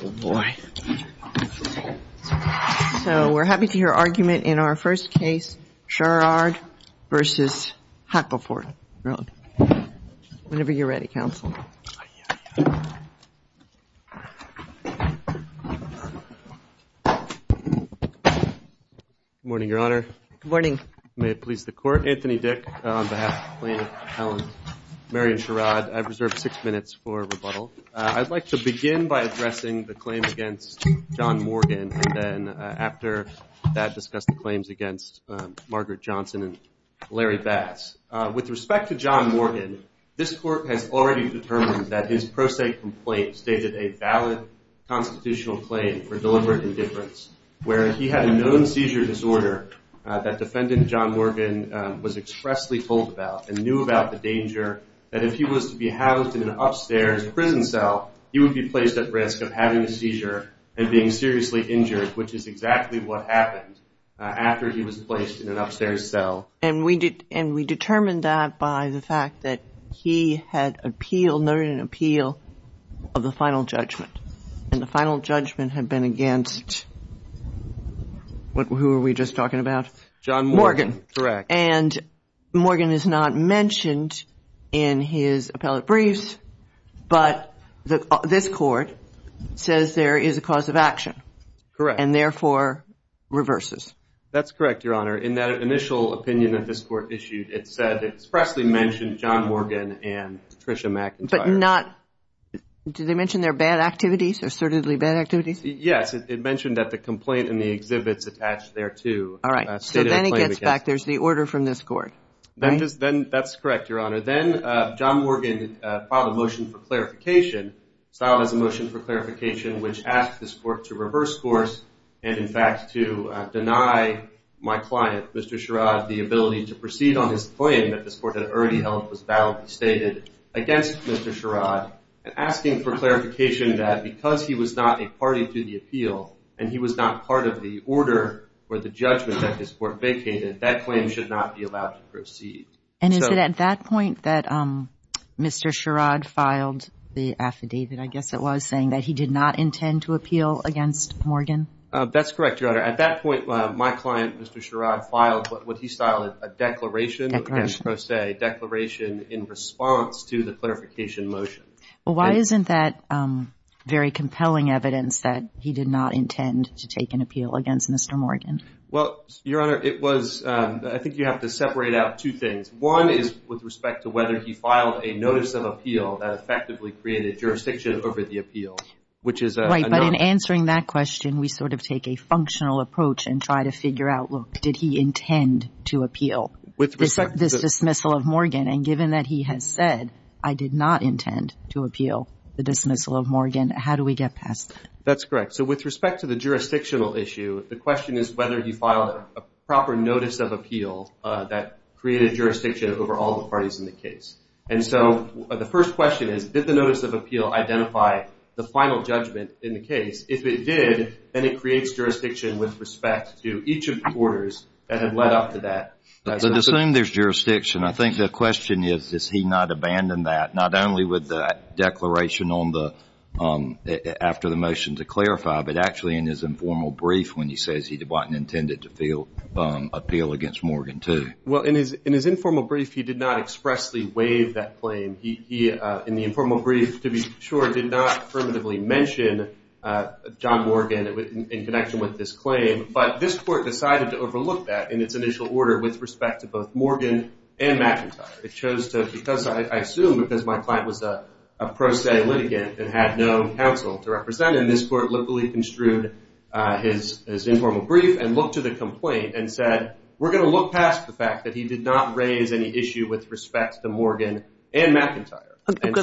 Good morning, your honor. May it please the court, Anthony Dick on behalf of the plaintiff, Marion Sherrod. I've reserved six minutes for rebuttal. I'd like to begin by addressing the claims against John Morgan and then after that discuss the claims against Margaret Johnson and Larry Bass. With respect to John Morgan, this court has already determined that his pro se complaint stated a valid constitutional claim for deliberate indifference where he had a known seizure disorder that defendant John Morgan was expressly told about and knew about the danger that if he was to be housed in an upstairs prison cell, he would be placed at risk of having a seizure and being seriously injured, which is exactly what happened after he was placed in an upstairs cell. And we determined that by the fact that he had noted an appeal of the final judgment. And the final judgment had been against, who were we just talking about? John Morgan. Correct. And Morgan is not mentioned in his appellate briefs, but this court says there is a cause of action. Correct. And therefore reverses. That's correct, Your Honor. In that initial opinion that this court issued, it said, expressly mentioned John Morgan and Patricia McIntyre. But not, did they mention their bad activities, their assertedly bad activities? Yes, it mentioned that the complaint in the exhibit's attached there too. All right. So then it gets back, there's the order from this court. That's correct, Your Honor. Then John Morgan filed a motion for clarification, filed as a motion for clarification, which asked this court to reverse course and in fact to deny my client, Mr. Sherrod, the ability to proceed on his claim that this court had already held was validly stated against Mr. Sherrod. And asking for clarification that because he was not a party to the appeal and he was not part of the order or the judgment that this court vacated, that claim should not be allowed to proceed. And is it at that point that Mr. Sherrod filed the affidavit, I guess it was, saying that he did not intend to appeal against Morgan? That's correct, Your Honor. At that point, my client, Mr. Sherrod, filed what he styled a declaration. Declaration. Declaration in response to the clarification motion. Well, why isn't that very compelling evidence that he did not intend to take an appeal against Mr. Morgan? Well, Your Honor, it was, I think you have to separate out two things. One is with respect to whether he filed a notice of appeal that effectively created jurisdiction over the appeal, which is a note. In answering that question, we sort of take a functional approach and try to figure out, look, did he intend to appeal this dismissal of Morgan? And given that he has said, I did not intend to appeal the dismissal of Morgan, how do we get past that? That's correct. So with respect to the jurisdictional issue, the question is whether he filed a proper notice of appeal that created jurisdiction over all the parties in the case. And so the first question is, did the notice of appeal identify the final judgment in the case? If it did, then it creates jurisdiction with respect to each of the orders that have led up to that. Assuming there's jurisdiction, I think the question is, has he not abandoned that, not only with the declaration after the motion to clarify, but actually in his informal brief when he says he didn't intend to appeal against Morgan too. Well, in his informal brief, he did not expressly waive that claim. He, in the informal brief, to be sure, did not affirmatively mention John Morgan in connection with this claim. But this court decided to overlook that in its initial order with respect to both Morgan and McIntyre. It chose to, because I assume because my client was a pro se litigant and had no counsel to represent him, this court literally construed his informal brief and looked to the complaint and said, we're going to look past the fact that he did not raise any issue with respect to Morgan and McIntyre.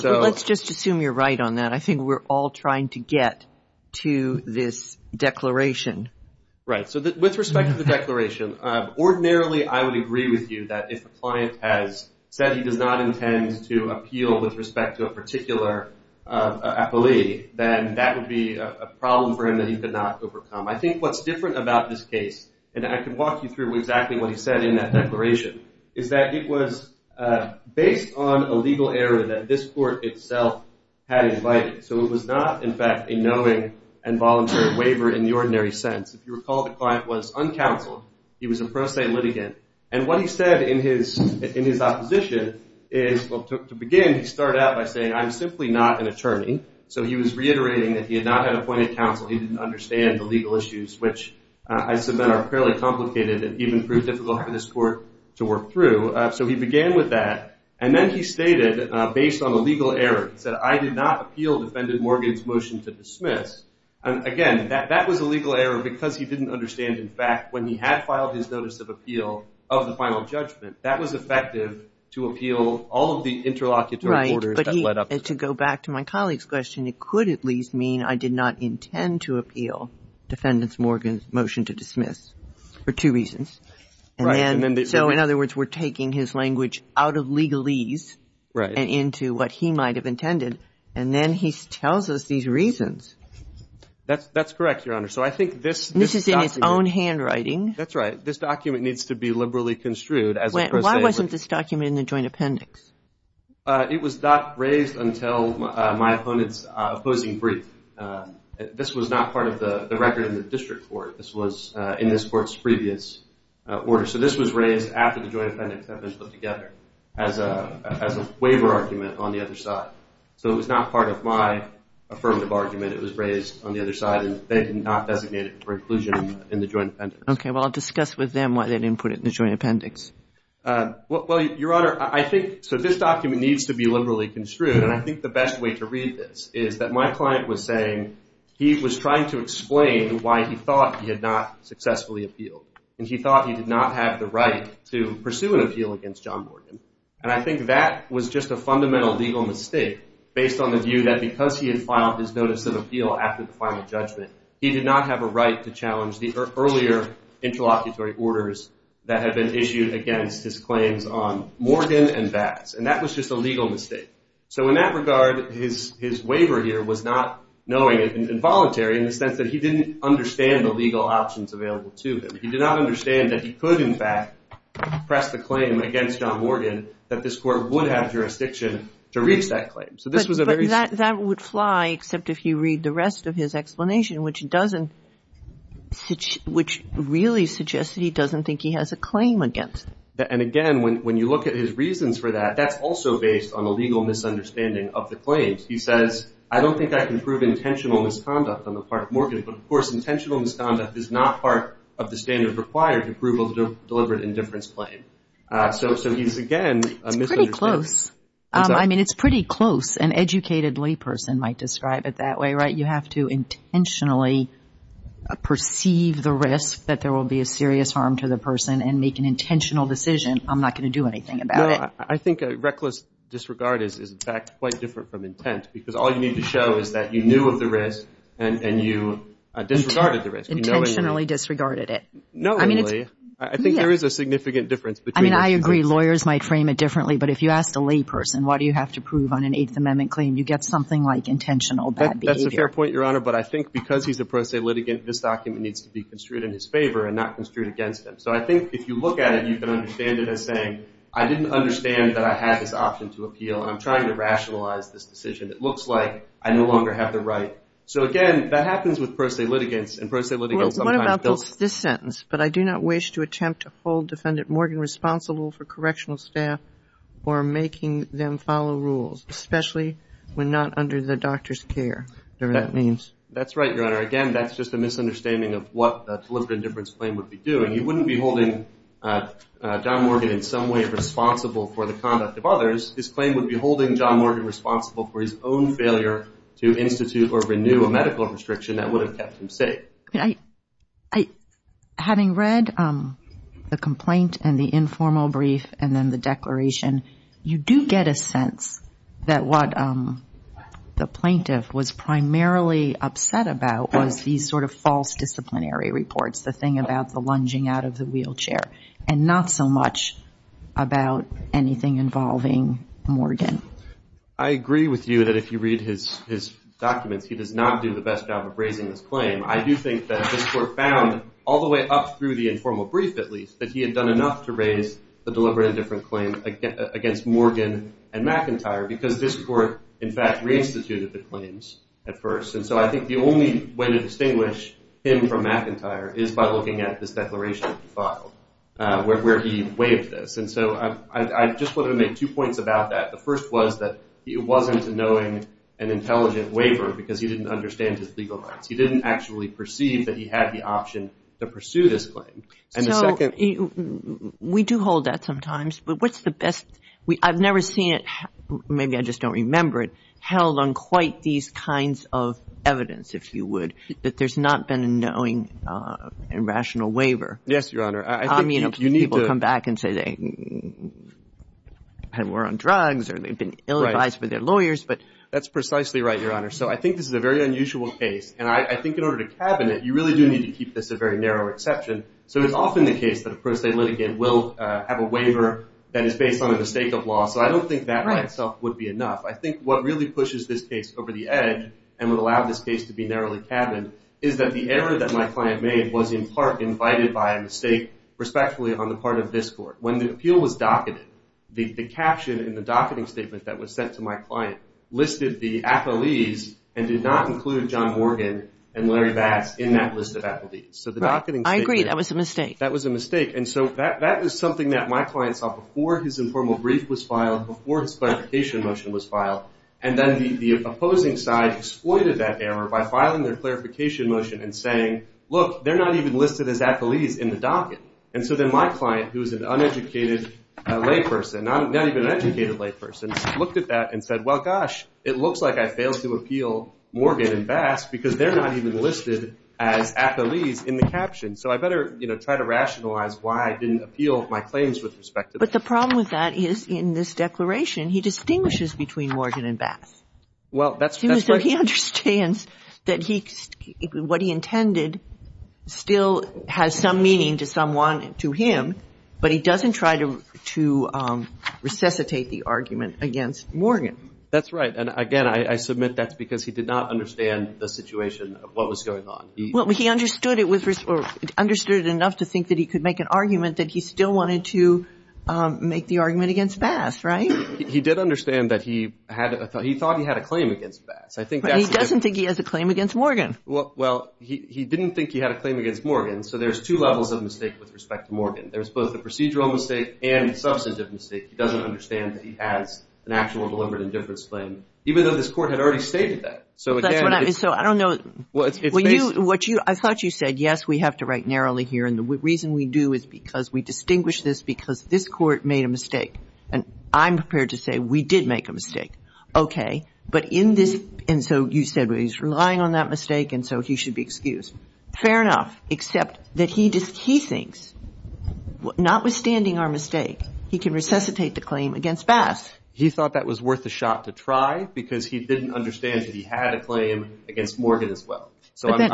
Let's just assume you're right on that. I think we're all trying to get to this declaration. Right. So with respect to the declaration, ordinarily I would agree with you that if a client has said he does not intend to appeal with respect to a particular appellee, then that would be a problem for him that he could not overcome. I think what's different about this case, and I can walk you through exactly what he said in that declaration, is that it was based on a legal error that this court itself had invited. So it was not, in fact, a knowing and voluntary waiver in the ordinary sense. If you recall, the client was uncounseled. He was a pro se litigant. And what he said in his opposition is, well, to begin, he started out by saying, I'm simply not an attorney. So he was reiterating that he had not had appointed counsel. He didn't understand the legal issues, which I submit are fairly complicated and even proved difficult for this court to work through. So he began with that. And then he stated, based on a legal error, he said, I did not appeal Defendant Morgan's motion to dismiss. Again, that was a legal error because he didn't understand, in fact, when he had filed his notice of appeal of the final judgment, that was effective to appeal all of the interlocutory orders that led up to it. But to go back to my colleague's question, it could at least mean I did not intend to appeal Defendant Morgan's motion to dismiss for two reasons. So in other words, we're taking his language out of legalese and into what he might have intended. And then he tells us these reasons. That's correct, Your Honor. So I think this document. This is in its own handwriting. That's right. This document needs to be liberally construed. Why wasn't this document in the joint appendix? It was not raised until my opponent's opposing brief. This was not part of the record in the district court. This was in this court's previous order. So this was raised after the joint appendix had been put together as a waiver argument on the other side. So it was not part of my affirmative argument. It was raised on the other side, and they did not designate it for inclusion in the joint appendix. Okay. Well, discuss with them why they didn't put it in the joint appendix. Well, Your Honor, I think this document needs to be liberally construed. And I think the best way to read this is that my client was saying he was trying to explain why he thought he had not successfully appealed. And he thought he did not have the right to pursue an appeal against John Morgan. And I think that was just a fundamental legal mistake based on the view that because he had filed his notice of appeal after the final judgment, he did not have a right to challenge the earlier interlocutory orders that had been issued against his claims on Morgan and Vance. And that was just a legal mistake. So in that regard, his waiver here was not knowing and involuntary in the sense that he didn't understand the legal options available to him. He did not understand that he could, in fact, press the claim against John Morgan that this court would have jurisdiction to reach that claim. So this was a very – But that would fly except if you read the rest of his explanation, which doesn't – which really suggests that he doesn't think he has a claim against him. And, again, when you look at his reasons for that, that's also based on a legal misunderstanding of the claims. He says, I don't think I can prove intentional misconduct on the part of Morgan. But, of course, intentional misconduct is not part of the standard required approval to deliver an indifference claim. So he's, again, a misunderstanding. It's pretty close. I mean, it's pretty close. An educated layperson might describe it that way, right? You have to intentionally perceive the risk that there will be a serious harm to the person and make an intentional decision. I'm not going to do anything about it. I think a reckless disregard is, in fact, quite different from intent because all you need to show is that you knew of the risk and you disregarded the risk. Intentionally disregarded it. Not only. I think there is a significant difference between – I mean, I agree. Lawyers might frame it differently. But if you ask a layperson, why do you have to prove on an Eighth Amendment claim, you get something like intentional bad behavior. That's a fair point, Your Honor. But I think because he's a pro se litigant, this document needs to be construed in his favor and not construed against him. So I think if you look at it, you can understand it as saying, I didn't understand that I had this option to appeal, and I'm trying to rationalize this decision. It looks like I no longer have the right. So, again, that happens with pro se litigants, and pro se litigants sometimes – Well, what about this sentence? But I do not wish to attempt to hold Defendant Morgan responsible for correctional staff or making them follow rules, especially when not under the doctor's care, whatever that means. That's right, Your Honor. Again, that's just a misunderstanding of what the Deliberative Indifference Claim would be doing. He wouldn't be holding Don Morgan in some way responsible for the conduct of others. His claim would be holding John Morgan responsible for his own failure to institute or renew a medical restriction that would have kept him safe. Having read the complaint and the informal brief and then the declaration, you do get a sense that what the plaintiff was primarily upset about was these sort of false disciplinary reports, the thing about the lunging out of the wheelchair, and not so much about anything involving Morgan. I agree with you that if you read his documents, he does not do the best job of raising this claim. I do think that this Court found all the way up through the informal brief, at least, that he had done enough to raise the Deliberative Indifference Claim against Morgan and McIntyre because this Court, in fact, reinstituted the claims at first. And so I think the only way to distinguish him from McIntyre is by looking at this declaration that he filed, where he waived this. And so I just want to make two points about that. The first was that it wasn't knowing an intelligent waiver because he didn't understand his legal rights. He didn't actually perceive that he had the option to pursue this claim. And the second— So we do hold that sometimes, but what's the best—I've never seen it, maybe I just don't remember it, held on quite these kinds of evidence, if you would, that there's not been a knowing and rational waiver. Yes, Your Honor. I mean, people come back and say they were on drugs or they've been ill-advised by their lawyers, but— That's precisely right, Your Honor. So I think this is a very unusual case, and I think in order to cabin it, you really do need to keep this a very narrow exception. So it's often the case that a pro se litigant will have a waiver that is based on a mistake of law. So I don't think that by itself would be enough. I think what really pushes this case over the edge and would allow this case to be narrowly cabined is that the error that my client made was in part invited by a mistake, respectfully, on the part of this Court. When the appeal was docketed, the caption in the docketing statement that was sent to my client listed the affilies and did not include John Morgan and Larry Bass in that list of affilies. I agree, that was a mistake. That was a mistake. And so that is something that my client saw before his informal brief was filed, before his clarification motion was filed, and then the opposing side exploited that error by filing their clarification motion and saying, look, they're not even listed as affilies in the docket. And so then my client, who is an uneducated layperson, not even an educated layperson, looked at that and said, well, gosh, it looks like I failed to appeal Morgan and Bass because they're not even listed as affilies in the caption. So I better try to rationalize why I didn't appeal my claims with respect to them. But the problem with that is in this declaration, he distinguishes between Morgan and Bass. Well, that's right. He understands that what he intended still has some meaning to someone, to him, but he doesn't try to resuscitate the argument against Morgan. That's right. And, again, I submit that's because he did not understand the situation of what was going on. Well, he understood it enough to think that he could make an argument that he still wanted to make the argument against Bass, right? He did understand that he thought he had a claim against Bass. He doesn't think he has a claim against Morgan. Well, he didn't think he had a claim against Morgan, so there's two levels of mistake with respect to Morgan. There's both a procedural mistake and a substantive mistake. He doesn't understand that he has an actual deliberate indifference claim, even though this Court had already stated that. So I don't know. I thought you said, yes, we have to write narrowly here, and the reason we do is because we distinguish this because this Court made a mistake. And I'm prepared to say we did make a mistake. Okay. But in this, and so you said he's relying on that mistake, and so he should be excused. Fair enough, except that he thinks, notwithstanding our mistake, he can resuscitate the claim against Bass. He thought that was worth a shot to try, because he didn't understand that he had a claim against Morgan as well. But that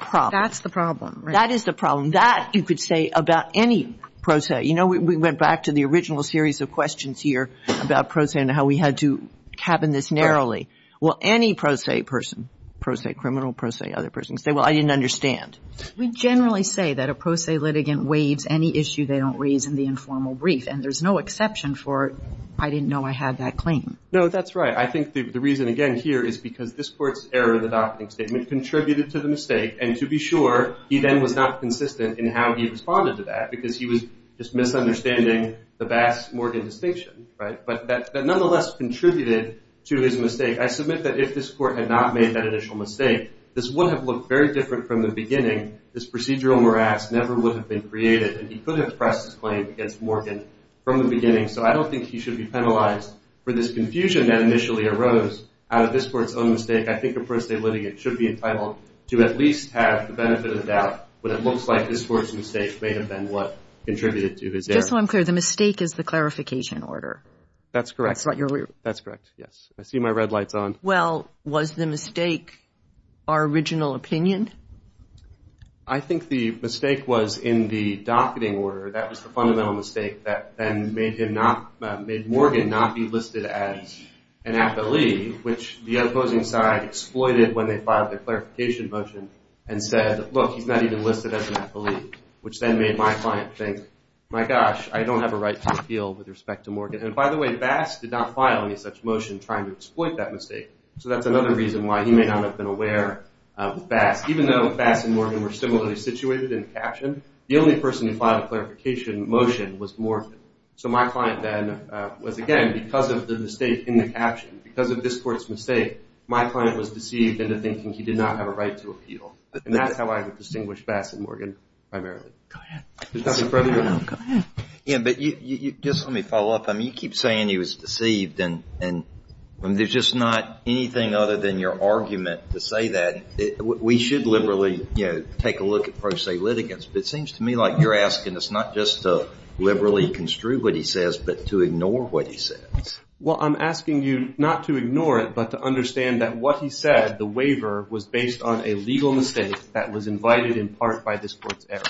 problem. That's the problem. That is the problem. That you could say about any pro se. You know, we went back to the original series of questions here about pro se and how we had to cabin this narrowly. Well, any pro se person, pro se criminal, pro se other person, say, well, I didn't understand. We generally say that a pro se litigant waives any issue they don't raise in the informal brief. And there's no exception for, I didn't know I had that claim. No, that's right. I think the reason, again, here is because this Court's error in the docketing statement contributed to the mistake. And to be sure, he then was not consistent in how he responded to that, because he was just misunderstanding the Bass-Morgan distinction, right? But that nonetheless contributed to his mistake. I submit that if this Court had not made that initial mistake, this would have looked very different from the beginning. This procedural morass never would have been created, and he could have pressed his claim against Morgan from the beginning. So I don't think he should be penalized for this confusion that initially arose out of this Court's own mistake. I think a pro se litigant should be entitled to at least have the benefit of doubt when it looks like this Court's mistake may have been what contributed to his error. Just so I'm clear, the mistake is the clarification order. That's correct. That's what you're aware of. That's correct, yes. I see my red lights on. Well, was the mistake our original opinion? I think the mistake was in the docketing order. That was the fundamental mistake that then made Morgan not be listed as an affilee, which the opposing side exploited when they filed their clarification motion and said, look, he's not even listed as an affilee, which then made my client think, my gosh, I don't have a right to appeal with respect to Morgan. And by the way, Bass did not file any such motion trying to exploit that mistake. So that's another reason why he may not have been aware of Bass, even though Bass and Morgan were similarly situated in the caption, the only person who filed a clarification motion was Morgan. So my client then was, again, because of the mistake in the caption, because of this Court's mistake, my client was deceived into thinking he did not have a right to appeal. And that's how I would distinguish Bass and Morgan primarily. Go ahead. Go ahead. Yeah, but just let me follow up. I mean, you keep saying he was deceived, and there's just not anything other than your argument to say that. We should liberally, you know, take a look at pro se litigants. But it seems to me like you're asking us not just to liberally construe what he says, but to ignore what he says. Well, I'm asking you not to ignore it, but to understand that what he said, the waiver, was based on a legal mistake that was invited in part by this Court's error.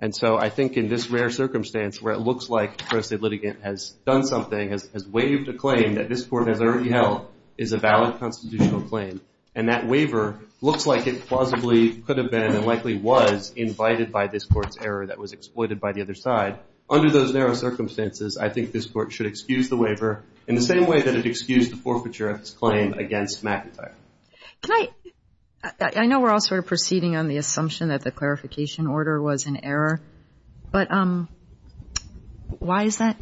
And so I think in this rare circumstance where it looks like a pro se litigant has done something, has waived a claim that this Court has already held, is a valid constitutional claim. And that waiver looks like it plausibly could have been and likely was invited by this Court's error that was exploited by the other side. Under those narrow circumstances, I think this Court should excuse the waiver in the same way that it excused the forfeiture of its claim against McIntyre. Can I – I know we're all sort of proceeding on the assumption that the clarification order was an error. But why is that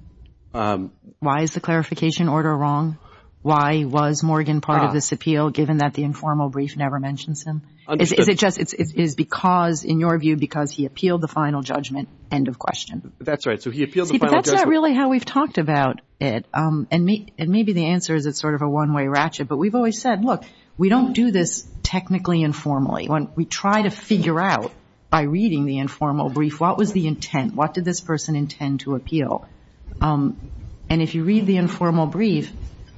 – why is the clarification order wrong? Why was Morgan part of this appeal, given that the informal brief never mentions him? Is it just – is it because, in your view, because he appealed the final judgment, end of question? That's right. So he appealed the final judgment. See, but that's not really how we've talked about it. And maybe the answer is it's sort of a one-way ratchet. But we've always said, look, we don't do this technically informally. We try to figure out by reading the informal brief, what was the intent? What did this person intend to appeal? And if you read the informal brief,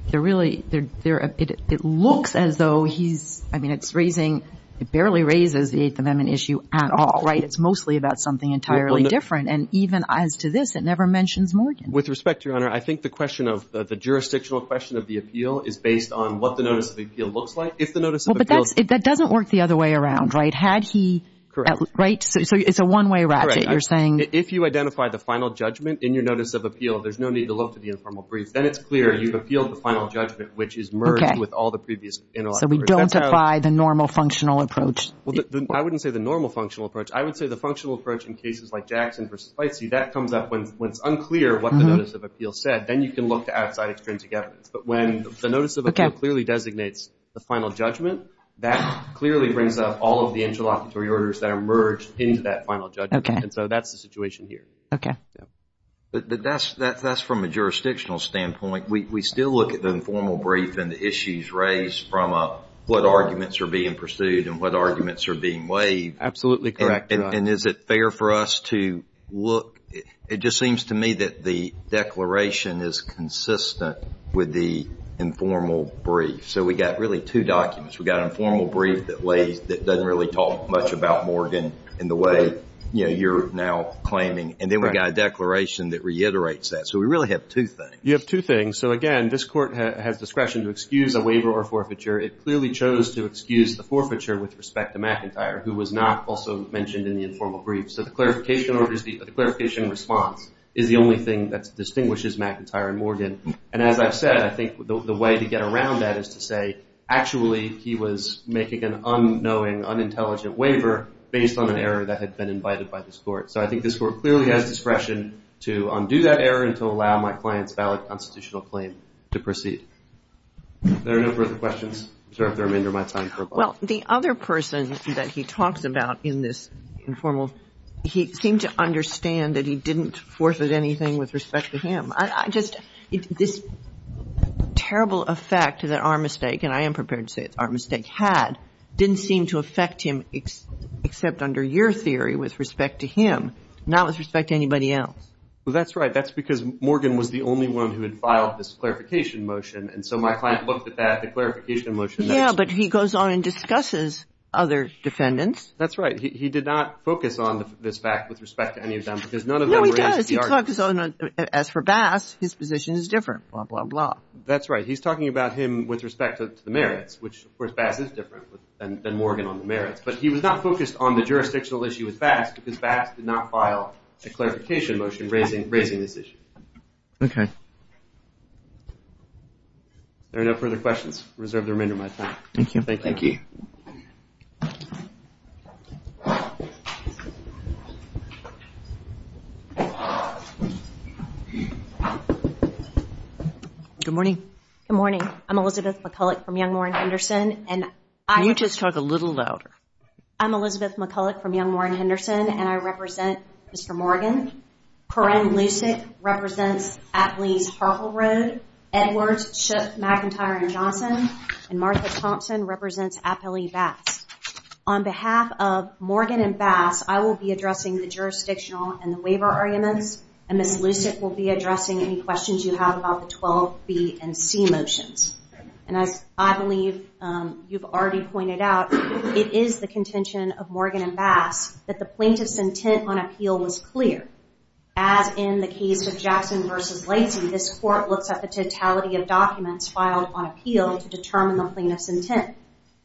they're really – it looks as though he's – I mean, it's raising – it barely raises the Eighth Amendment issue at all, right? It's mostly about something entirely different. And even as to this, it never mentions Morgan. With respect, Your Honor, I think the question of – the jurisdictional question of the appeal is based on what the notice of appeal looks like. If the notice of appeal – Well, but that doesn't work the other way around, right? Had he – Correct. Right? So it's a one-way ratchet, you're saying. If you identify the final judgment in your notice of appeal, there's no need to look to the informal brief. Then it's clear you've appealed the final judgment, which is merged with all the previous – So we don't apply the normal functional approach. I wouldn't say the normal functional approach. I would say the functional approach in cases like Jackson v. Spicey, that comes up when it's unclear what the notice of appeal said. Then you can look to outside extrinsic evidence. But when the notice of appeal clearly designates the final judgment, that clearly brings up all of the interlocutory orders that are merged into that final judgment. Okay. So that's the situation here. Okay. But that's from a jurisdictional standpoint. We still look at the informal brief and the issues raised from what arguments are being pursued and what arguments are being waived. Absolutely correct. And is it fair for us to look – it just seems to me that the declaration is consistent with the informal brief. So we've got really two documents. We've got an informal brief that doesn't really talk much about Morgan in the way you're now claiming. And then we've got a declaration that reiterates that. So we really have two things. You have two things. So, again, this Court has discretion to excuse a waiver or forfeiture. It clearly chose to excuse the forfeiture with respect to McIntyre, who was not also mentioned in the informal brief. So the clarification response is the only thing that distinguishes McIntyre and Morgan. And as I've said, I think the way to get around that is to say, actually he was making an unknowing, unintelligent waiver based on an error that had been invited by this Court. So I think this Court clearly has discretion to undo that error and to allow my client's valid constitutional claim to proceed. If there are no further questions, I reserve the remainder of my time. Well, the other person that he talks about in this informal, he seemed to understand that he didn't forfeit anything with respect to him. This terrible effect that our mistake, and I am prepared to say it's our mistake, had didn't seem to affect him except under your theory with respect to him, not with respect to anybody else. Well, that's right. That's because Morgan was the only one who had filed this clarification motion. And so my client looked at that, the clarification motion. Yeah, but he goes on and discusses other defendants. That's right. He did not focus on this fact with respect to any of them because none of them were NCPR defendants. No, he does. He talks, as for Bass, his position is different, blah, blah, blah. That's right. He's talking about him with respect to the merits, which of course Bass is different than Morgan on the merits. But he was not focused on the jurisdictional issue with Bass because Bass did not file a clarification motion raising this issue. Okay. If there are no further questions, I reserve the remainder of my time. Thank you. Thank you. Good morning. Good morning. I'm Elizabeth McCulloch from Young, Moore, and Henderson. Can you just talk a little louder? I'm Elizabeth McCulloch from Young, Moore, and Henderson, and I represent Mr. Morgan. Corinne Lucic represents Apley's Hartle Road, Edwards, Schuch, McIntyre, and Johnson, and Martha Thompson represents Apley Bass. On behalf of Morgan and Bass, I will be addressing the jurisdictional and the waiver arguments and Ms. Lucic will be addressing any questions you have about the 12B and C motions. And as I believe you've already pointed out, it is the contention of Morgan and Bass that the plaintiff's intent on appeal was clear. As in the case of Jackson v. Lacey, this court looks at the totality of documents filed on appeal to determine the plaintiff's intent.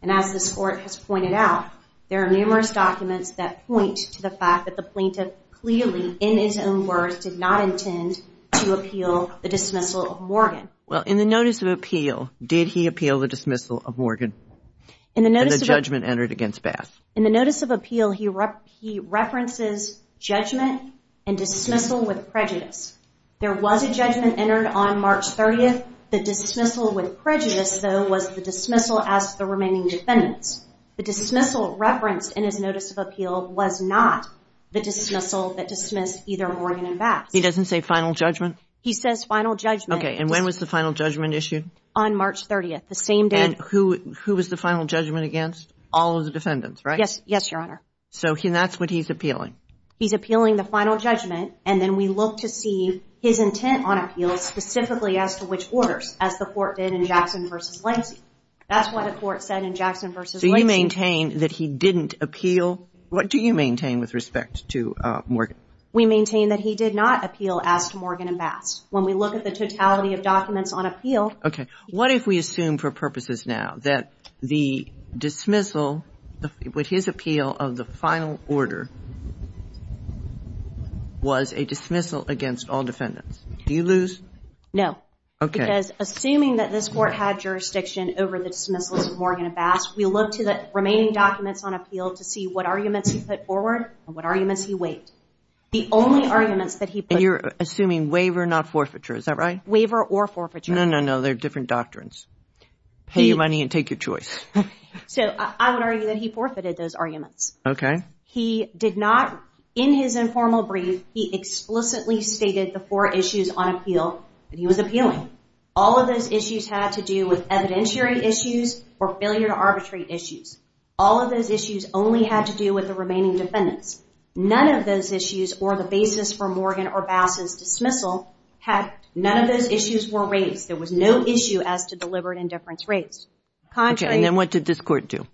And as this court has pointed out, there are numerous documents that point to the fact that the plaintiff clearly, in his own words, did not intend to appeal the dismissal of Morgan. Well, in the notice of appeal, did he appeal the dismissal of Morgan and the judgment entered against Bass? In the notice of appeal, he references judgment and dismissal with prejudice. There was a judgment entered on March 30. The dismissal with prejudice, though, was the dismissal as to the remaining defendants. The dismissal referenced in his notice of appeal was not the dismissal that dismissed either Morgan and Bass. He doesn't say final judgment? He says final judgment. Okay, and when was the final judgment issued? On March 30, the same day. And who was the final judgment against? All of the defendants, right? Yes, Your Honor. So that's what he's appealing. He's appealing the final judgment, and then we look to see his intent on appeal specifically as to which orders, as the court did in Jackson v. Lacey. That's what the court said in Jackson v. Lacey. So you maintain that he didn't appeal? What do you maintain with respect to Morgan? We maintain that he did not appeal as to Morgan and Bass. When we look at the totality of documents on appeal... Okay, what if we assume for purposes now that the dismissal with his appeal of the final order was a dismissal against all defendants? Do you lose? No. Okay. Because assuming that this court had jurisdiction over the dismissal of Morgan and Bass, we look to the remaining documents on appeal to see what arguments he put forward and what arguments he waived. The only arguments that he put... And you're assuming waiver, not forfeiture. Is that right? Waiver or forfeiture. No, no, no. They're different doctrines. Pay your money and take your choice. So I would argue that he forfeited those arguments. Okay. He did not, in his informal brief, he explicitly stated the four issues on appeal that he was appealing. All of those issues had to do with evidentiary issues or failure to arbitrate issues. All of those issues only had to do with the remaining defendants. None of those issues, or the basis for Morgan or Bass's dismissal, none of those issues were raised. There was no issue as to deliberate indifference raised. Okay, and then what did this court do?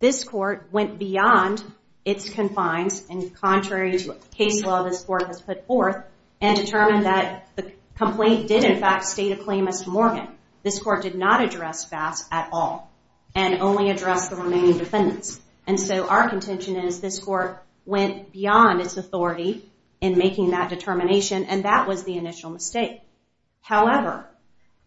This court went beyond its confines, and contrary to case law this court has put forth, and determined that the complaint did in fact state a claim as to Morgan. This court did not address Bass at all, and only addressed the remaining defendants. And so our contention is this court went beyond its authority in making that determination, and that was the initial mistake. However,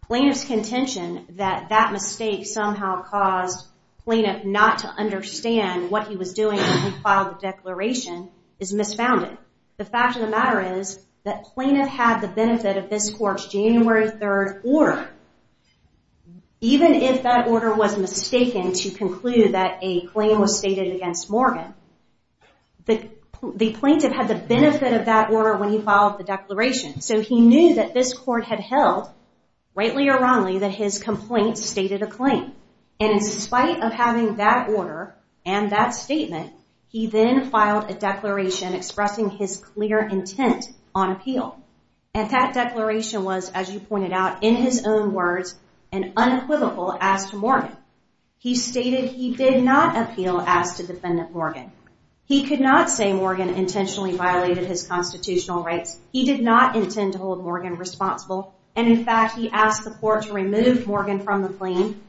plaintiff's contention that that mistake somehow caused plaintiff not to understand what he was doing when he filed the declaration is misfounded. The fact of the matter is that plaintiff had the benefit of this court's January 3rd order. Even if that order was mistaken to conclude that a claim was stated against Morgan, the plaintiff had the benefit of that order when he filed the declaration. So he knew that this court had held, rightly or wrongly, that his complaint stated a claim. And in spite of having that order and that statement, he then filed a declaration expressing his clear intent on appeal. And that declaration was, as you pointed out, in his own words, an unequivocal as to Morgan. He stated he did not appeal as to defendant Morgan. He could not say Morgan intentionally violated his constitutional rights. He did not intend to hold Morgan responsible. And in fact, he asked the court to remove Morgan from the claim,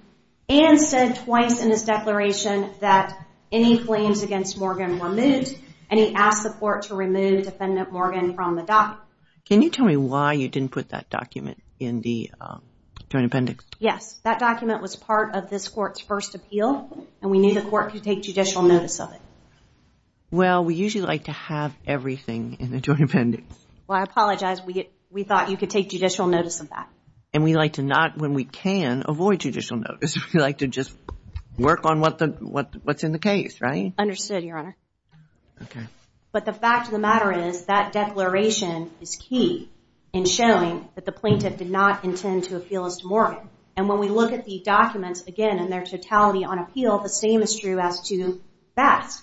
and said twice in his declaration that any claims against Morgan were moved, and he asked the court to remove defendant Morgan from the document. Can you tell me why you didn't put that document in the joint appendix? Yes. That document was part of this court's first appeal, and we knew the court could take judicial notice of it. Well, we usually like to have everything in the joint appendix. Well, I apologize. We thought you could take judicial notice of that. And we like to not, when we can, avoid judicial notice. We like to just work on what's in the case, right? Understood, Your Honor. But the fact of the matter is that declaration is key in showing that the plaintiff did not intend to appeal as to Morgan. And when we look at the documents again in their totality on appeal, the same is true as to Bass.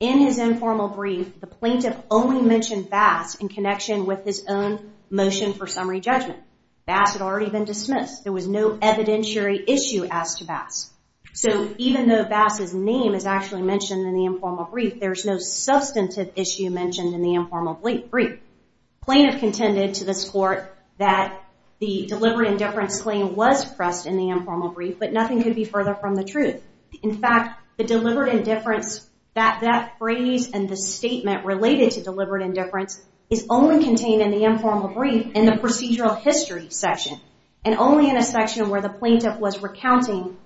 In his informal brief, the plaintiff only mentioned Bass in connection with his own motion for summary judgment. Bass had already been dismissed. There was no evidentiary issue as to Bass. So even though Bass's name is actually mentioned in the informal brief, there's no substantive issue mentioned in the informal brief. Plaintiff contended to this court that the deliberate indifference claim was pressed in the informal brief, but nothing could be further from the truth. In fact, the deliberate indifference, that phrase and the statement related to deliberate indifference is only contained in the informal brief in the procedural history section and only in a section where the plaintiff was recounting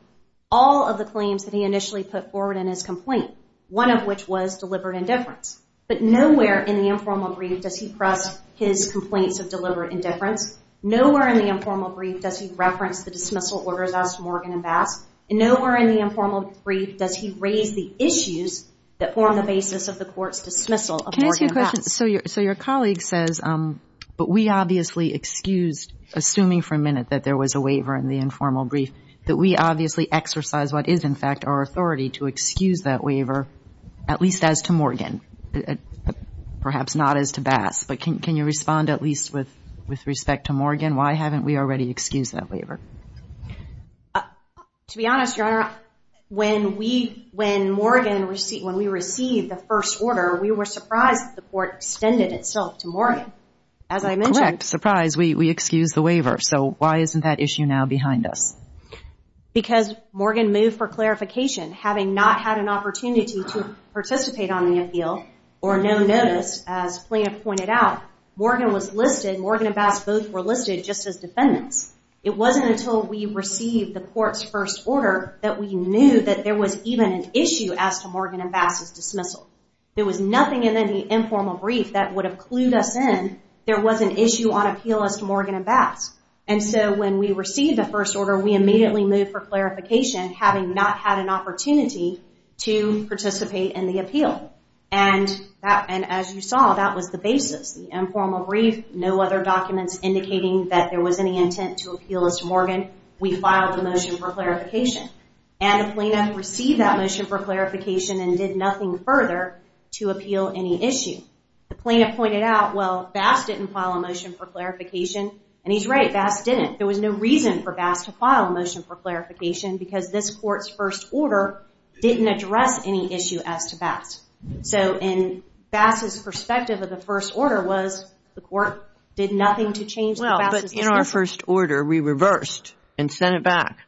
all of the claims that he initially put forward in his complaint, one of which was deliberate indifference. But nowhere in the informal brief does he press his complaints of deliberate indifference. Nowhere in the informal brief does he reference the dismissal orders asked of Morgan and Bass. And nowhere in the informal brief does he raise the issues that form the basis of the court's dismissal of Morgan and Bass. Can I ask you a question? So your colleague says, but we obviously excused, assuming for a minute that there was a waiver in the informal brief, that we obviously exercise what is in fact our authority to excuse that waiver, at least as to Morgan, perhaps not as to Bass. But can you respond at least with respect to Morgan? Why haven't we already excused that waiver? To be honest, Your Honor, when we received the first order, we were surprised that the court extended itself to Morgan. As I mentioned. Correct. Surprise. We excused the waiver. So why isn't that issue now behind us? Because Morgan moved for clarification. Having not had an opportunity to participate on the appeal, or no notice, as plaintiff pointed out, Morgan and Bass both were listed just as defendants. It wasn't until we received the court's first order that we knew that there was even an issue as to Morgan and Bass' dismissal. There was nothing in any informal brief that would have clued us in. There was an issue on appeal as to Morgan and Bass. And so when we received the first order, we immediately moved for clarification, having not had an opportunity to participate in the appeal. And as you saw, that was the basis. The informal brief, no other documents indicating that there was any intent to appeal as to Morgan. We filed the motion for clarification. And the plaintiff received that motion for clarification and did nothing further to appeal any issue. The plaintiff pointed out, well, Bass didn't file a motion for clarification. And he's right. Bass didn't. There was no reason for Bass to file a motion for clarification because this court's first order didn't address any issue as to Bass. So in Bass' perspective of the first order was the court did nothing to change the Bass' dismissal. Well, but in our first order, we reversed and sent it back.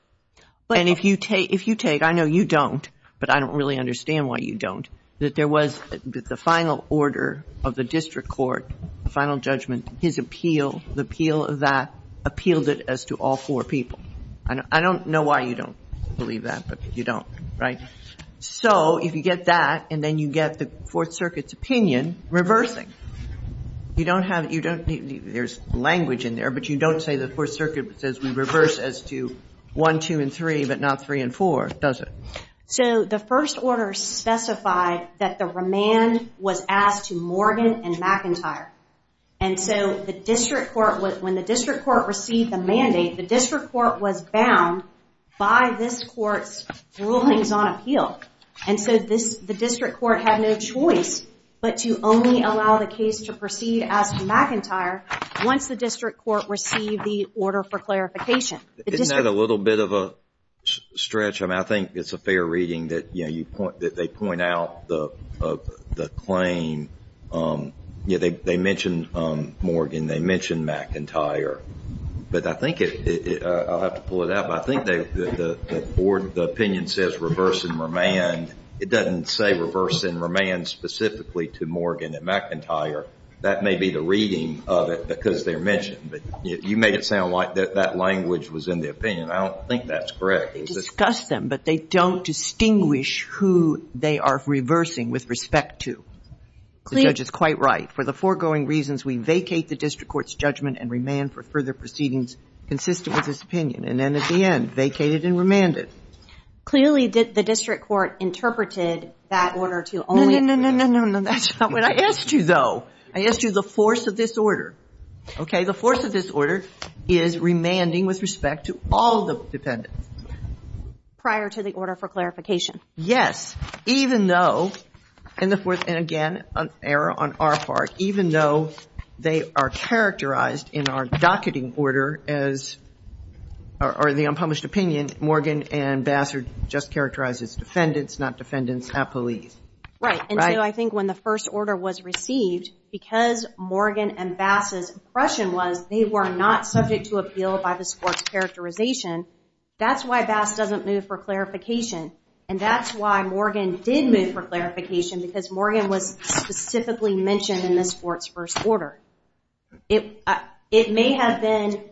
And if you take, I know you don't, but I don't really understand why you don't, that there was the final order of the district court, the final judgment, his appeal, the appeal of that, appealed it as to all four people. I don't know why you don't believe that, but you don't, right? So if you get that and then you get the Fourth Circuit's opinion, reversing. You don't have, you don't, there's language in there, but you don't say the Fourth Circuit says we reverse as to one, two, and three, but not three and four, does it? So the first order specified that the remand was asked to Morgan and McIntyre. And so the district court, when the district court received the mandate, the district court was bound by this court's rulings on appeal. And so the district court had no choice but to only allow the case to proceed as to McIntyre once the district court received the order for clarification. Isn't that a little bit of a stretch? I mean, I think it's a fair reading that, you know, you point, that they point out the claim, you know, they mention Morgan, they mention McIntyre, but I think it, I'll have to pull it out, but I think the board, the opinion says reverse and remand. It doesn't say reverse and remand specifically to Morgan and McIntyre. That may be the reading of it because they're mentioned, but you make it sound like that language was in the opinion. I don't think that's correct. They discuss them, but they don't distinguish who they are reversing with respect to. The judge is quite right. For the foregoing reasons, we vacate the district court's judgment and remand for further proceedings consistent with this opinion. And then at the end, vacated and remanded. Clearly, the district court interpreted that order to only No, no, no, no, no, that's not what I asked you, though. I asked you the force of this order. Okay, the force of this order is remanding with respect to all the defendants. Prior to the order for clarification. Yes, even though, and again, an error on our part, even though they are characterized in our docketing order as, or the unpublished opinion, Morgan and Bassard just characterize as defendants, not defendants, not police. Right, and so I think when the first order was received, because Morgan and Bass's impression was they were not subject to appeal by the sports characterization, that's why Bass doesn't move for clarification. And that's why Morgan did move for clarification, because Morgan was specifically mentioned in the sports first order. It may have been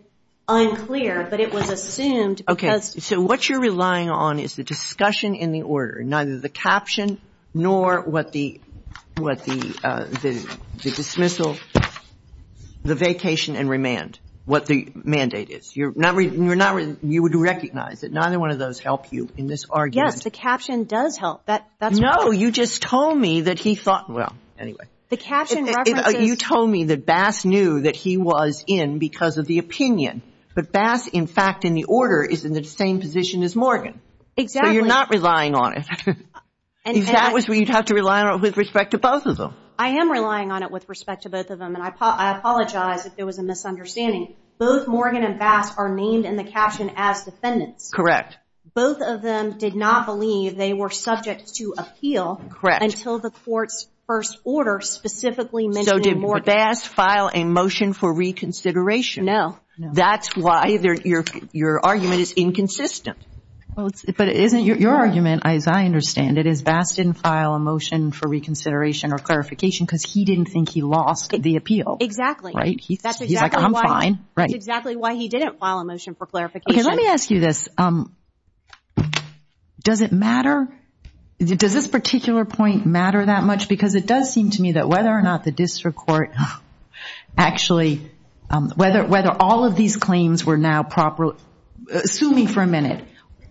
unclear, but it was assumed because Okay, so what you're relying on is the discussion in the order, neither the caption nor what the dismissal, the vacation and remand, what the mandate is. You're not, you would recognize that neither one of those help you in this argument. Yes, the caption does help. No, you just told me that he thought, well, anyway. The caption references You told me that Bass knew that he was in because of the opinion, but Bass, in fact, in the order is in the same position as Morgan. Exactly. So you're not relying on it. That was where you'd have to rely on it with respect to both of them. I am relying on it with respect to both of them, and I apologize if there was a misunderstanding. Both Morgan and Bass are named in the caption as defendants. Correct. Both of them did not believe they were subject to appeal until the court's first order specifically mentioned Morgan. So did Bass file a motion for reconsideration? No. That's why your argument is inconsistent. But isn't your argument, as I understand it, is Bass didn't file a motion for reconsideration or clarification because he didn't think he lost the appeal. Exactly. He's like, I'm fine. That's exactly why he didn't file a motion for clarification. Let me ask you this. Does it matter? Does this particular point matter that much? Because it does seem to me that whether or not the district court actually, whether all of these claims were now properly, assuming for a minute,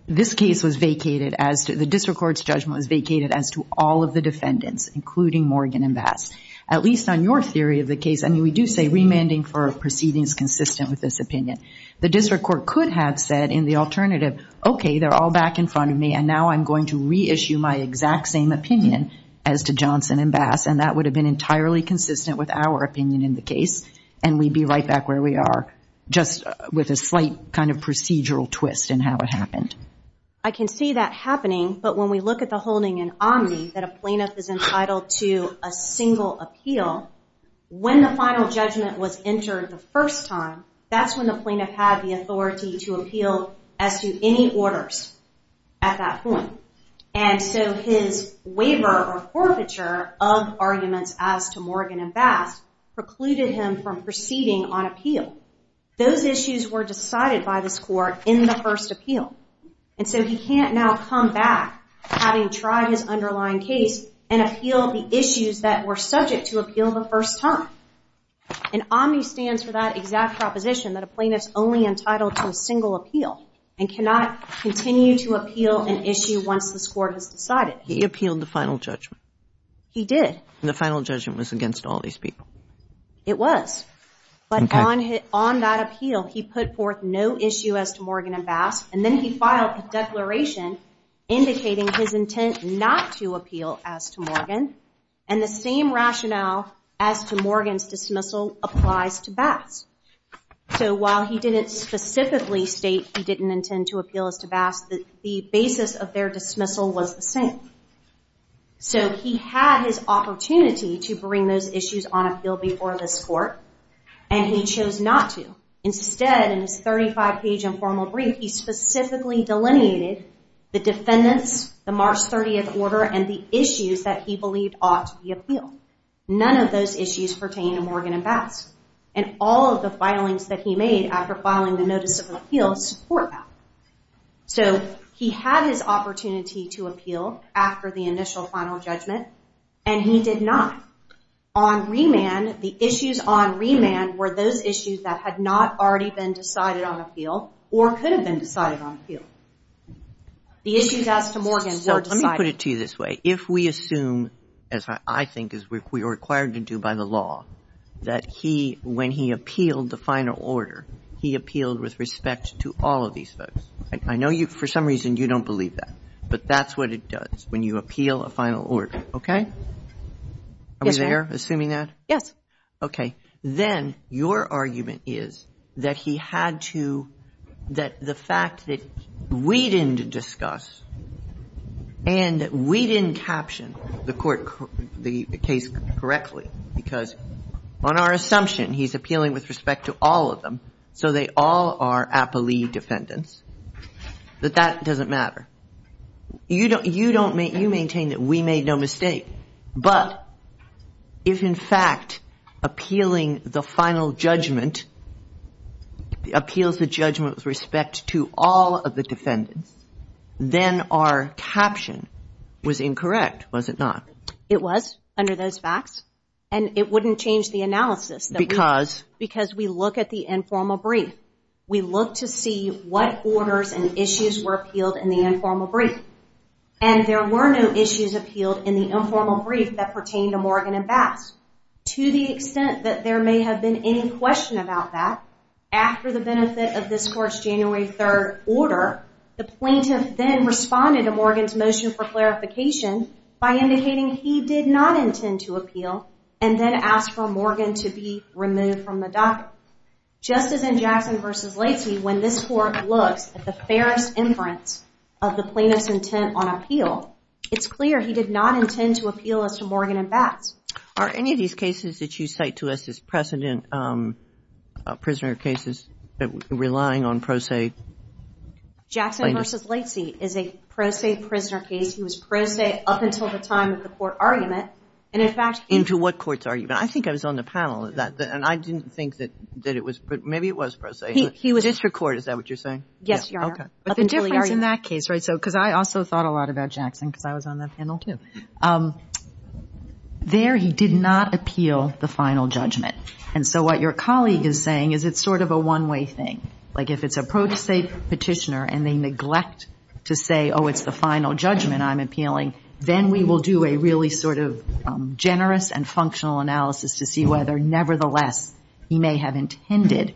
this case was vacated, the district court's judgment was vacated as to all of the defendants, including Morgan and Bass. At least on your theory of the case, I mean we do say remanding for a proceeding is consistent with this opinion. The district court could have said in the alternative, okay, they're all back in front of me, and now I'm going to reissue my exact same opinion as to Johnson and Bass, and that would have been entirely consistent with our opinion in the case, and we'd be right back where we are, just with a slight kind of procedural twist in how it happened. I can see that happening, but when we look at the holding in Omni that a plaintiff is entitled to a single appeal, when the final judgment was entered the first time, that's when the plaintiff had the authority to appeal as to any orders at that point. And so his waiver or forfeiture of arguments as to Morgan and Bass precluded him from proceeding on appeal. Those issues were decided by this court in the first appeal. And so he can't now come back, having tried his underlying case, and appeal the issues that were subject to appeal the first time. And Omni stands for that exact proposition, that a plaintiff's only entitled to a single appeal and cannot continue to appeal an issue once this court has decided. He appealed the final judgment. He did. And the final judgment was against all these people. It was. Okay. But on that appeal, he put forth no issue as to Morgan and Bass, and then he filed a declaration indicating his intent not to appeal as to Morgan, and the same rationale as to Morgan's dismissal applies to Bass. So while he didn't specifically state he didn't intend to appeal as to Bass, the basis of their dismissal was the same. So he had his opportunity to bring those issues on appeal before this court, and he chose not to. Instead, in his 35-page informal brief, he specifically delineated the defendants, the March 30th order, and the issues that he believed ought to be appealed. None of those issues pertain to Morgan and Bass. And all of the filings that he made after filing the notice of appeal support that. So he had his opportunity to appeal after the initial final judgment, and he did not. On remand, the issues on remand were those issues that had not already been decided on appeal or could have been decided on appeal. The issues as to Morgan were decided. Let me put it to you this way. If we assume, as I think we are required to do by the law, that he, when he appealed the final order, he appealed with respect to all of these folks, I know for some reason you don't believe that, but that's what it does when you appeal a final order, okay? Yes, ma'am. Are we there assuming that? Yes. Okay. Then your argument is that he had to, that the fact that we didn't discuss and we didn't caption the court, the case correctly, because on our assumption he's appealing with respect to all of them, so they all are appellee defendants, that that doesn't matter. You maintain that we made no mistake. But if, in fact, appealing the final judgment, appeals the judgment with respect to all of the defendants, then our caption was incorrect, was it not? It was, under those facts. And it wouldn't change the analysis. Because? Because we look at the informal brief. We look to see what orders and issues were appealed in the informal brief. And there were no issues appealed in the informal brief that pertained to Morgan and Bass. To the extent that there may have been any question about that, after the benefit of this court's January 3rd order, the plaintiff then responded to Morgan's motion for clarification by indicating he did not intend to appeal and then asked for Morgan to be removed from the docket. Just as in Jackson v. Lacey, when this court looks at the fairest inference of the plaintiff's intent on appeal, it's clear he did not intend to appeal as to Morgan and Bass. Are any of these cases that you cite to us as precedent, prisoner cases, relying on pro se? Jackson v. Lacey is a pro se prisoner case. He was pro se up until the time of the court argument. Into what court's argument? I think I was on the panel. And I didn't think that it was. Maybe it was pro se. He was district court. Is that what you're saying? Yes, Your Honor. But the difference in that case, right, because I also thought a lot about Jackson because I was on that panel, too. There he did not appeal the final judgment. And so what your colleague is saying is it's sort of a one-way thing. Like if it's a pro se petitioner and they neglect to say, oh, it's the final judgment I'm appealing, then we will do a really sort of generous and functional analysis to see whether, nevertheless, he may have intended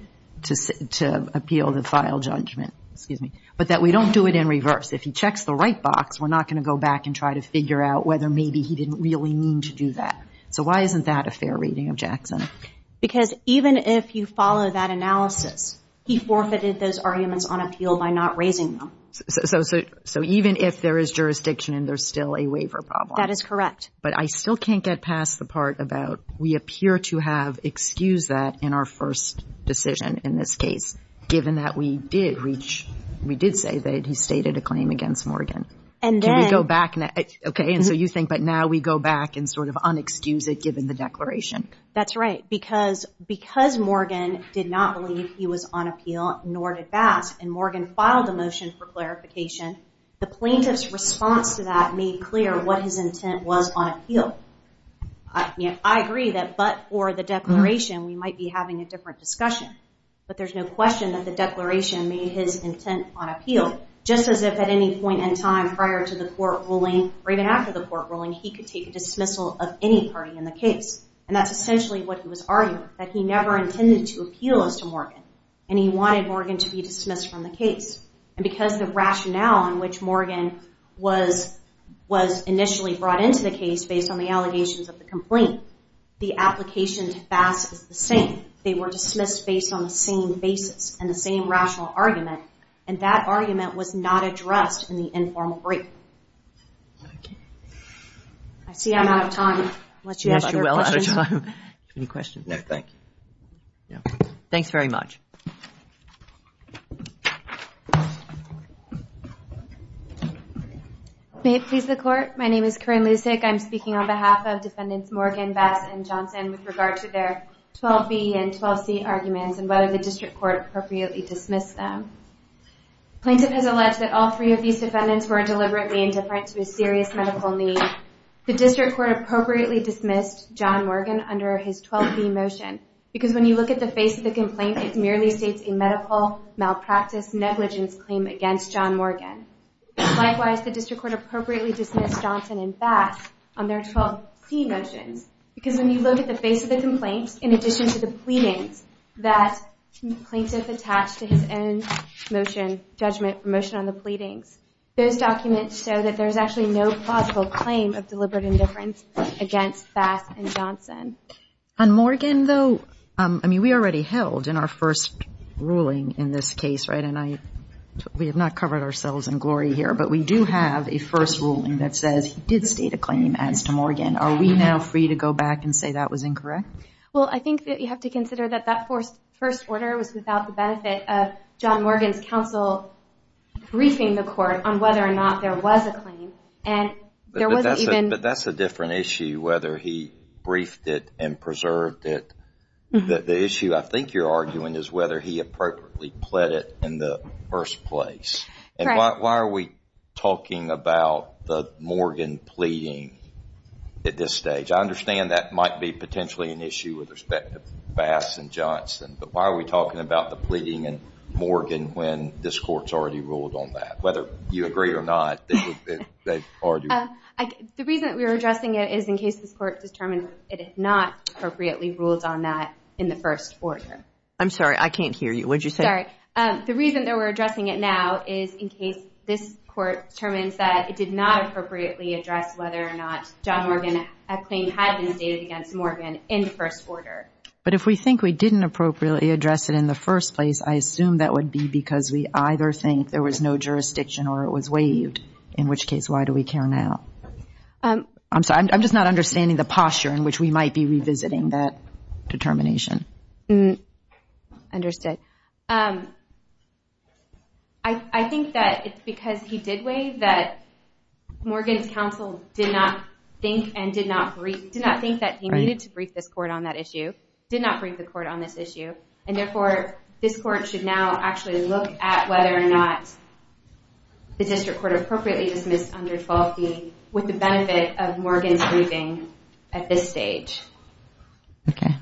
to appeal the final judgment, but that we don't do it in reverse. If he checks the right box, we're not going to go back and try to figure out whether maybe he didn't really mean to do that. So why isn't that a fair reading of Jackson? Because even if you follow that analysis, he forfeited those arguments on appeal by not raising them. So even if there is jurisdiction and there's still a waiver problem. That is correct. But I still can't get past the part about we appear to have excused that in our first decision in this case, given that we did reach, we did say that he stated a claim against Morgan. Can we go back now? Okay. And so you think, but now we go back and sort of unexcuse it given the declaration. That's right. Because Morgan did not believe he was on appeal, nor did Bask. And Morgan filed a motion for clarification. The plaintiff's response to that made clear what his intent was on appeal. I agree that, but for the declaration, we might be having a different discussion. But there's no question that the declaration made his intent on appeal. Just as if at any point in time prior to the court ruling, or even after the court ruling, he could take a dismissal of any party in the case. And that's essentially what he was arguing, that he never intended to appeal as to Morgan. And he wanted Morgan to be dismissed from the case. And because the rationale in which Morgan was initially brought into the case based on the allegations of the complaint, the application to Bask is the same. They were dismissed based on the same basis and the same rational argument. And that argument was not addressed in the informal brief. Okay. I see I'm out of time. Unless you have other questions. Yes, you're well out of time. Any questions? No, thank you. No. Thanks very much. May it please the court. My name is Corinne Lucic. I'm speaking on behalf of Defendants Morgan, Bask, and Johnson with regard to their 12B and 12C arguments and whether the district court appropriately dismissed them. Plaintiff has alleged that all three of these defendants were deliberately indifferent to a serious medical need. The district court appropriately dismissed John Morgan under his 12B motion. Because when you look at the face of the complaint, it merely states a medical malpractice negligence claim against John Morgan. Likewise, the district court appropriately dismissed Johnson and Bask on their 12C motions. Because when you look at the face of the complaint, in addition to the pleadings that the plaintiff attached to his own motion on the pleadings, those documents show that there's actually no plausible claim of deliberate indifference against Bask and Johnson. On Morgan, though, I mean, we already held in our first ruling in this case, right, and we have not covered ourselves in glory here, but we do have a first ruling that says he did state a claim as to Morgan. Are we now free to go back and say that was incorrect? Well, I think that you have to consider that that first order was without the benefit of John Morgan's counsel briefing the court on whether or not there was a claim. But that's a different issue, whether he briefed it and preserved it. The issue I think you're arguing is whether he appropriately pled it in the first place. And why are we talking about the Morgan pleading at this stage? I understand that might be potentially an issue with respect to Bask and Johnson, but why are we talking about the pleading in Morgan when this court's already ruled on that? Whether you agree or not, they've argued. The reason that we're addressing it is in case this court determined it had not appropriately ruled on that in the first order. I'm sorry, I can't hear you. What did you say? Sorry. The reason that we're addressing it now is in case this court determines that it did not appropriately address whether or not John Morgan, a claim had been stated against Morgan in the first order. But if we think we didn't appropriately address it in the first place, I assume that would be because we either think there was no jurisdiction or it was waived, in which case why do we care now? I'm sorry, I'm just not understanding the posture in which we might be revisiting that determination. Understood. I think that it's because he did waive that Morgan's counsel did not think and did not think that he needed to brief this court on that issue, did not brief the court on this issue, and therefore this court should now actually look at whether or not the district court appropriately dismissed under 12B with the benefit of Morgan's briefing at this stage. Okay.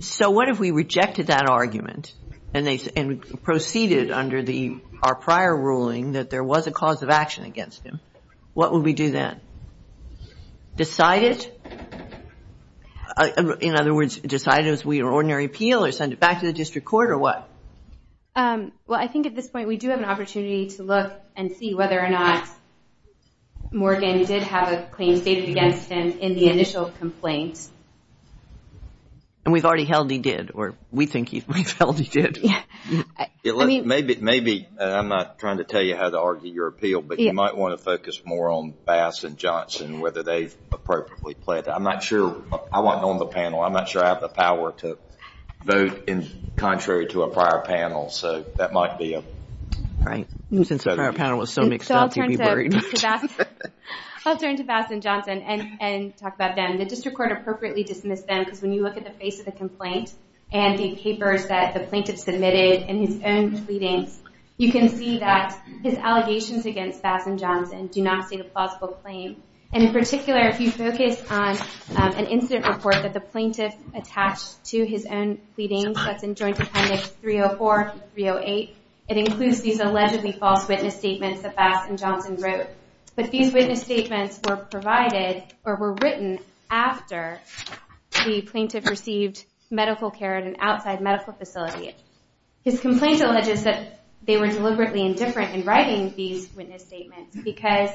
So what if we rejected that argument and proceeded under our prior ruling that there was a cause of action against him? What would we do then? Decide it? In other words, decide it as an ordinary appeal or send it back to the district court or what? Well, I think at this point we do have an opportunity to look and see whether or not Morgan did have a claim stated against him in the initial complaint. And we've already held he did, or we think we've held he did. Maybe I'm not trying to tell you how to argue your appeal, but you might want to focus more on Bass and Johnson, whether they've appropriately pleaded. I'm not sure. I want to know on the panel. I'm not sure I have the power to vote contrary to a prior panel. So that might be a… Right. Since the prior panel was so mixed up, you'd be worried. I'll turn to Bass and Johnson and talk about them. The district court appropriately dismissed them because when you look at the face of the complaint and the papers that the plaintiff submitted and his own pleadings, you can see that his allegations against Bass and Johnson do not state a plausible claim. And in particular, if you focus on an incident report that the plaintiff attached to his own pleadings, that's in Joint Appendix 304 and 308, it includes these allegedly false witness statements that Bass and Johnson wrote. But these witness statements were provided or were written after the plaintiff received medical care at an outside medical facility. His complaint alleges that they were deliberately indifferent in writing these witness statements because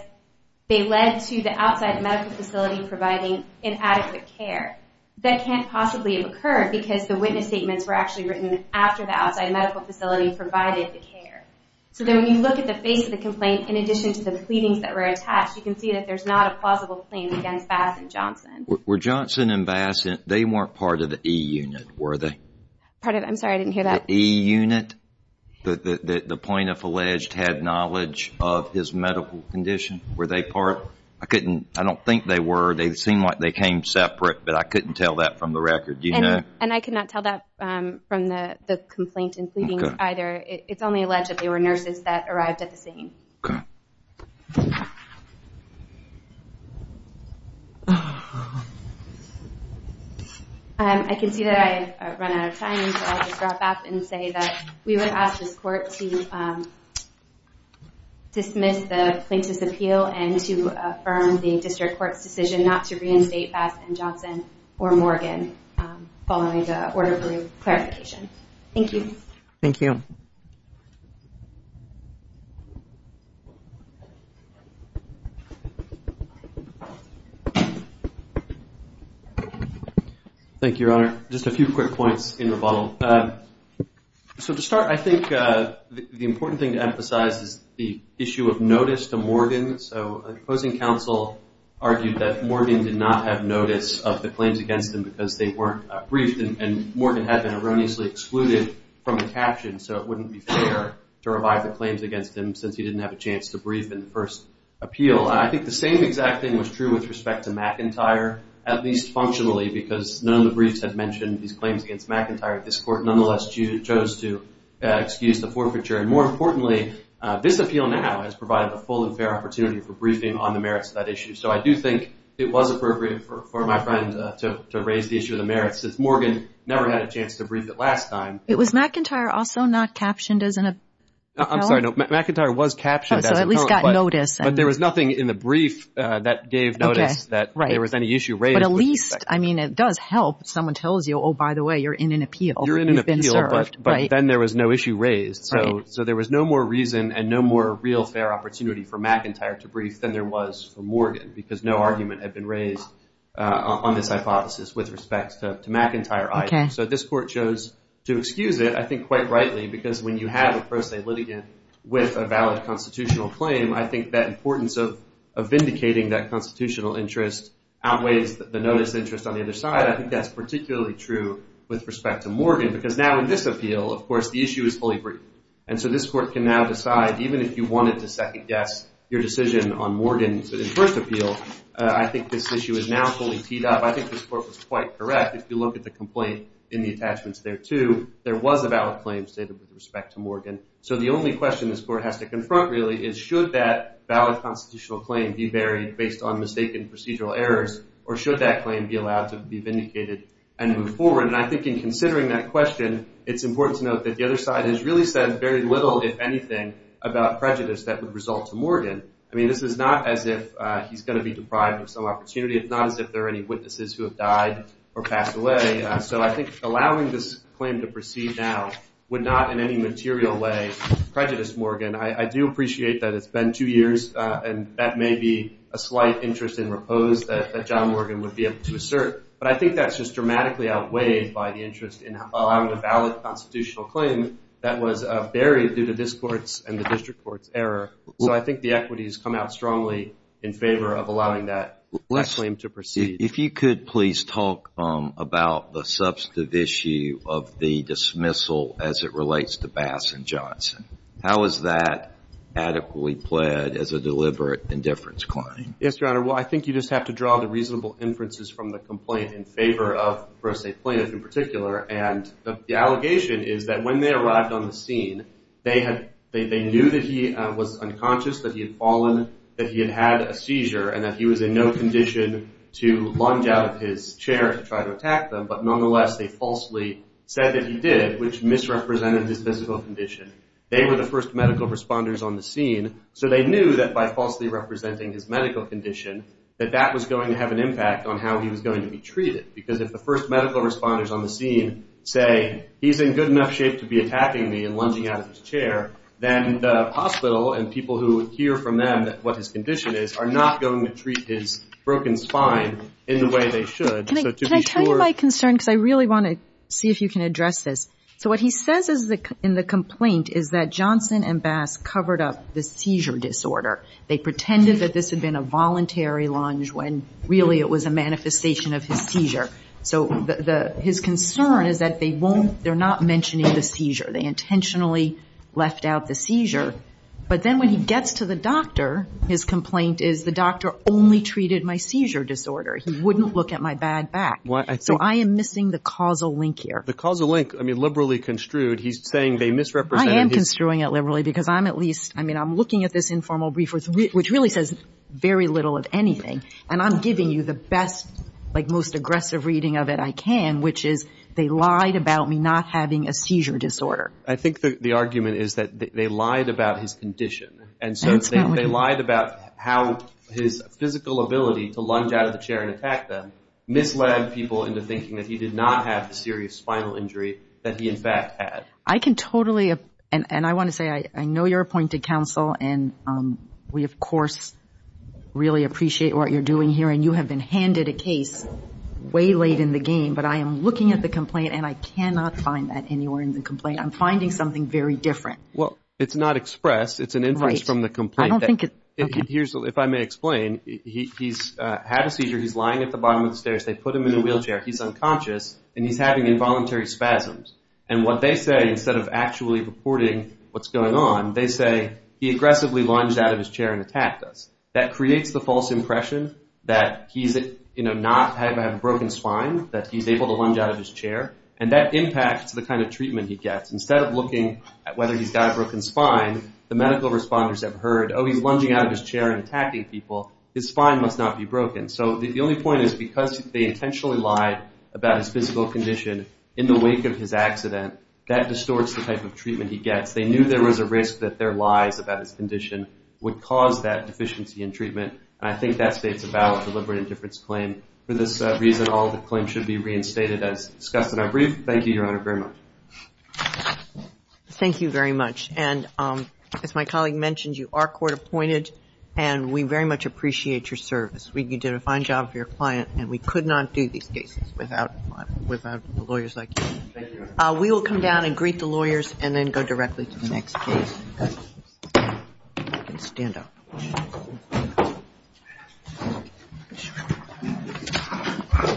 they led to the outside medical facility providing inadequate care. That can't possibly have occurred because the witness statements were actually written after the outside medical facility provided the care. So then when you look at the face of the complaint, in addition to the pleadings that were attached, you can see that there's not a plausible claim against Bass and Johnson. Were Johnson and Bass, they weren't part of the E-unit, were they? I'm sorry, I didn't hear that. The E-unit that the plaintiff alleged had knowledge of his medical condition, were they part? I don't think they were. They seemed like they came separate, but I couldn't tell that from the record. Do you know? And I could not tell that from the complaint and pleadings either. It's only alleged that they were nurses that arrived at the scene. Okay. I can see that I've run out of time, so I'll just wrap up and say that we would ask this court to dismiss the plaintiff's appeal and to affirm the district court's decision not to reinstate Bass and Johnson or Morgan following the order for clarification. Thank you. Thank you. Thank you, Your Honor. Just a few quick points in rebuttal. So to start, I think the important thing to emphasize is the issue of notice to Morgan. So the opposing counsel argued that Morgan did not have notice of the claims against him because they weren't briefed, and Morgan had been erroneously excluded from the caption, so it wouldn't be fair to revive the claims against him since he didn't have a chance to brief in the first appeal. I think the same exact thing was true with respect to McIntyre, at least functionally, because none of the briefs had mentioned these claims against McIntyre at this court. Nonetheless, you chose to excuse the forfeiture. And more importantly, this appeal now has provided a full and fair opportunity for briefing on the merits of that issue. So I do think it was appropriate for my friend to raise the issue of the merits since Morgan never had a chance to brief it last time. Was McIntyre also not captioned as an appellant? I'm sorry. McIntyre was captioned as an appellant. So at least got notice. But there was nothing in the brief that gave notice that there was any issue raised. But at least, I mean, it does help if someone tells you, oh, by the way, you're in an appeal. You're in an appeal, but then there was no issue raised. So there was no more reason and no more real fair opportunity for McIntyre to brief than there was for Morgan because no argument had been raised on this hypothesis with respect to McIntyre. So this court chose to excuse it, I think quite rightly, because when you have a pro se litigant with a valid constitutional claim, I think that importance of vindicating that constitutional interest outweighs the notice interest on the other side. I think that's particularly true with respect to Morgan because now in this appeal, of course, the issue is fully briefed. And so this court can now decide, even if you wanted to second guess your decision on Morgan's first appeal, I think this issue is now fully teed up. I think this court was quite correct. If you look at the complaint in the attachments there too, there was a valid claim stated with respect to Morgan. So the only question this court has to confront really is should that valid constitutional claim be buried based on mistaken procedural errors, or should that claim be allowed to be vindicated and moved forward? And I think in considering that question, it's important to note that the other side has really said very little, if anything, about prejudice that would result to Morgan. I mean, this is not as if he's going to be deprived of some opportunity. It's not as if there are any witnesses who have died or passed away. So I think allowing this claim to proceed now would not in any material way prejudice Morgan. I do appreciate that it's been two years, and that may be a slight interest in repose that John Morgan would be able to assert. But I think that's just dramatically outweighed by the interest in allowing a valid constitutional claim that was buried due to this court's and the district court's error. So I think the equities come out strongly in favor of allowing that claim to proceed. If you could please talk about the substantive issue of the dismissal as it relates to Bass and Johnson. How is that adequately pled as a deliberate indifference claim? Yes, Your Honor. Well, I think you just have to draw the reasonable inferences from the complaint in favor of Brose Plinth in particular. And the allegation is that when they arrived on the scene, they knew that he was unconscious, that he had fallen, that he had had a seizure, and that he was in no condition to lunge out of his chair to try to attack them. But nonetheless, they falsely said that he did, which misrepresented his physical condition. They were the first medical responders on the scene, so they knew that by falsely representing his medical condition, that that was going to have an impact on how he was going to be treated. Because if the first medical responders on the scene say, he's in good enough shape to be attacking me and lunging out of his chair, then the hospital and people who hear from them what his condition is are not going to treat his broken spine in the way they should. Can I tell you my concern? Because I really want to see if you can address this. So what he says in the complaint is that Johnson and Bass covered up the seizure disorder. They pretended that this had been a voluntary lunge when really it was a manifestation of his seizure. They intentionally left out the seizure. But then when he gets to the doctor, his complaint is, the doctor only treated my seizure disorder. He wouldn't look at my bad back. So I am missing the causal link here. The causal link, I mean, liberally construed. He's saying they misrepresented. I am construing it liberally because I'm at least, I mean, I'm looking at this informal brief, which really says very little of anything. And I'm giving you the best, like most aggressive reading of it I can, which is they lied about me not having a seizure disorder. I think the argument is that they lied about his condition. And so they lied about how his physical ability to lunge out of the chair and attack them misled people into thinking that he did not have the serious spinal injury that he in fact had. I can totally, and I want to say I know you're appointed counsel, and we, of course, really appreciate what you're doing here. And you have been handed a case way late in the game. But I am looking at the complaint, and I cannot find that anywhere in the complaint. I'm finding something very different. Well, it's not expressed. It's an inference from the complaint. I don't think it, okay. Here's, if I may explain, he's had a seizure. He's lying at the bottom of the stairs. They put him in a wheelchair. He's unconscious. And he's having involuntary spasms. And what they say instead of actually reporting what's going on, they say he aggressively lunged out of his chair and attacked us. That creates the false impression that he's, you know, not having a broken spine, that he's able to lunge out of his chair. And that impacts the kind of treatment he gets. Instead of looking at whether he's got a broken spine, the medical responders have heard, oh, he's lunging out of his chair and attacking people. His spine must not be broken. So the only point is because they intentionally lied about his physical condition in the wake of his accident, that distorts the type of treatment he gets. They knew there was a risk that their lies about his condition would cause that deficiency in treatment. And I think that states a valid deliberate indifference claim. For this reason, all the claims should be reinstated as discussed in our brief. Thank you, Your Honor, very much. Thank you very much. And as my colleague mentioned, you are court appointed, and we very much appreciate your service. You did a fine job for your client, and we could not do these cases without the lawyers like you. Thank you, Your Honor. We will come down and greet the lawyers and then go directly to the next case. Thank you. You can stand up.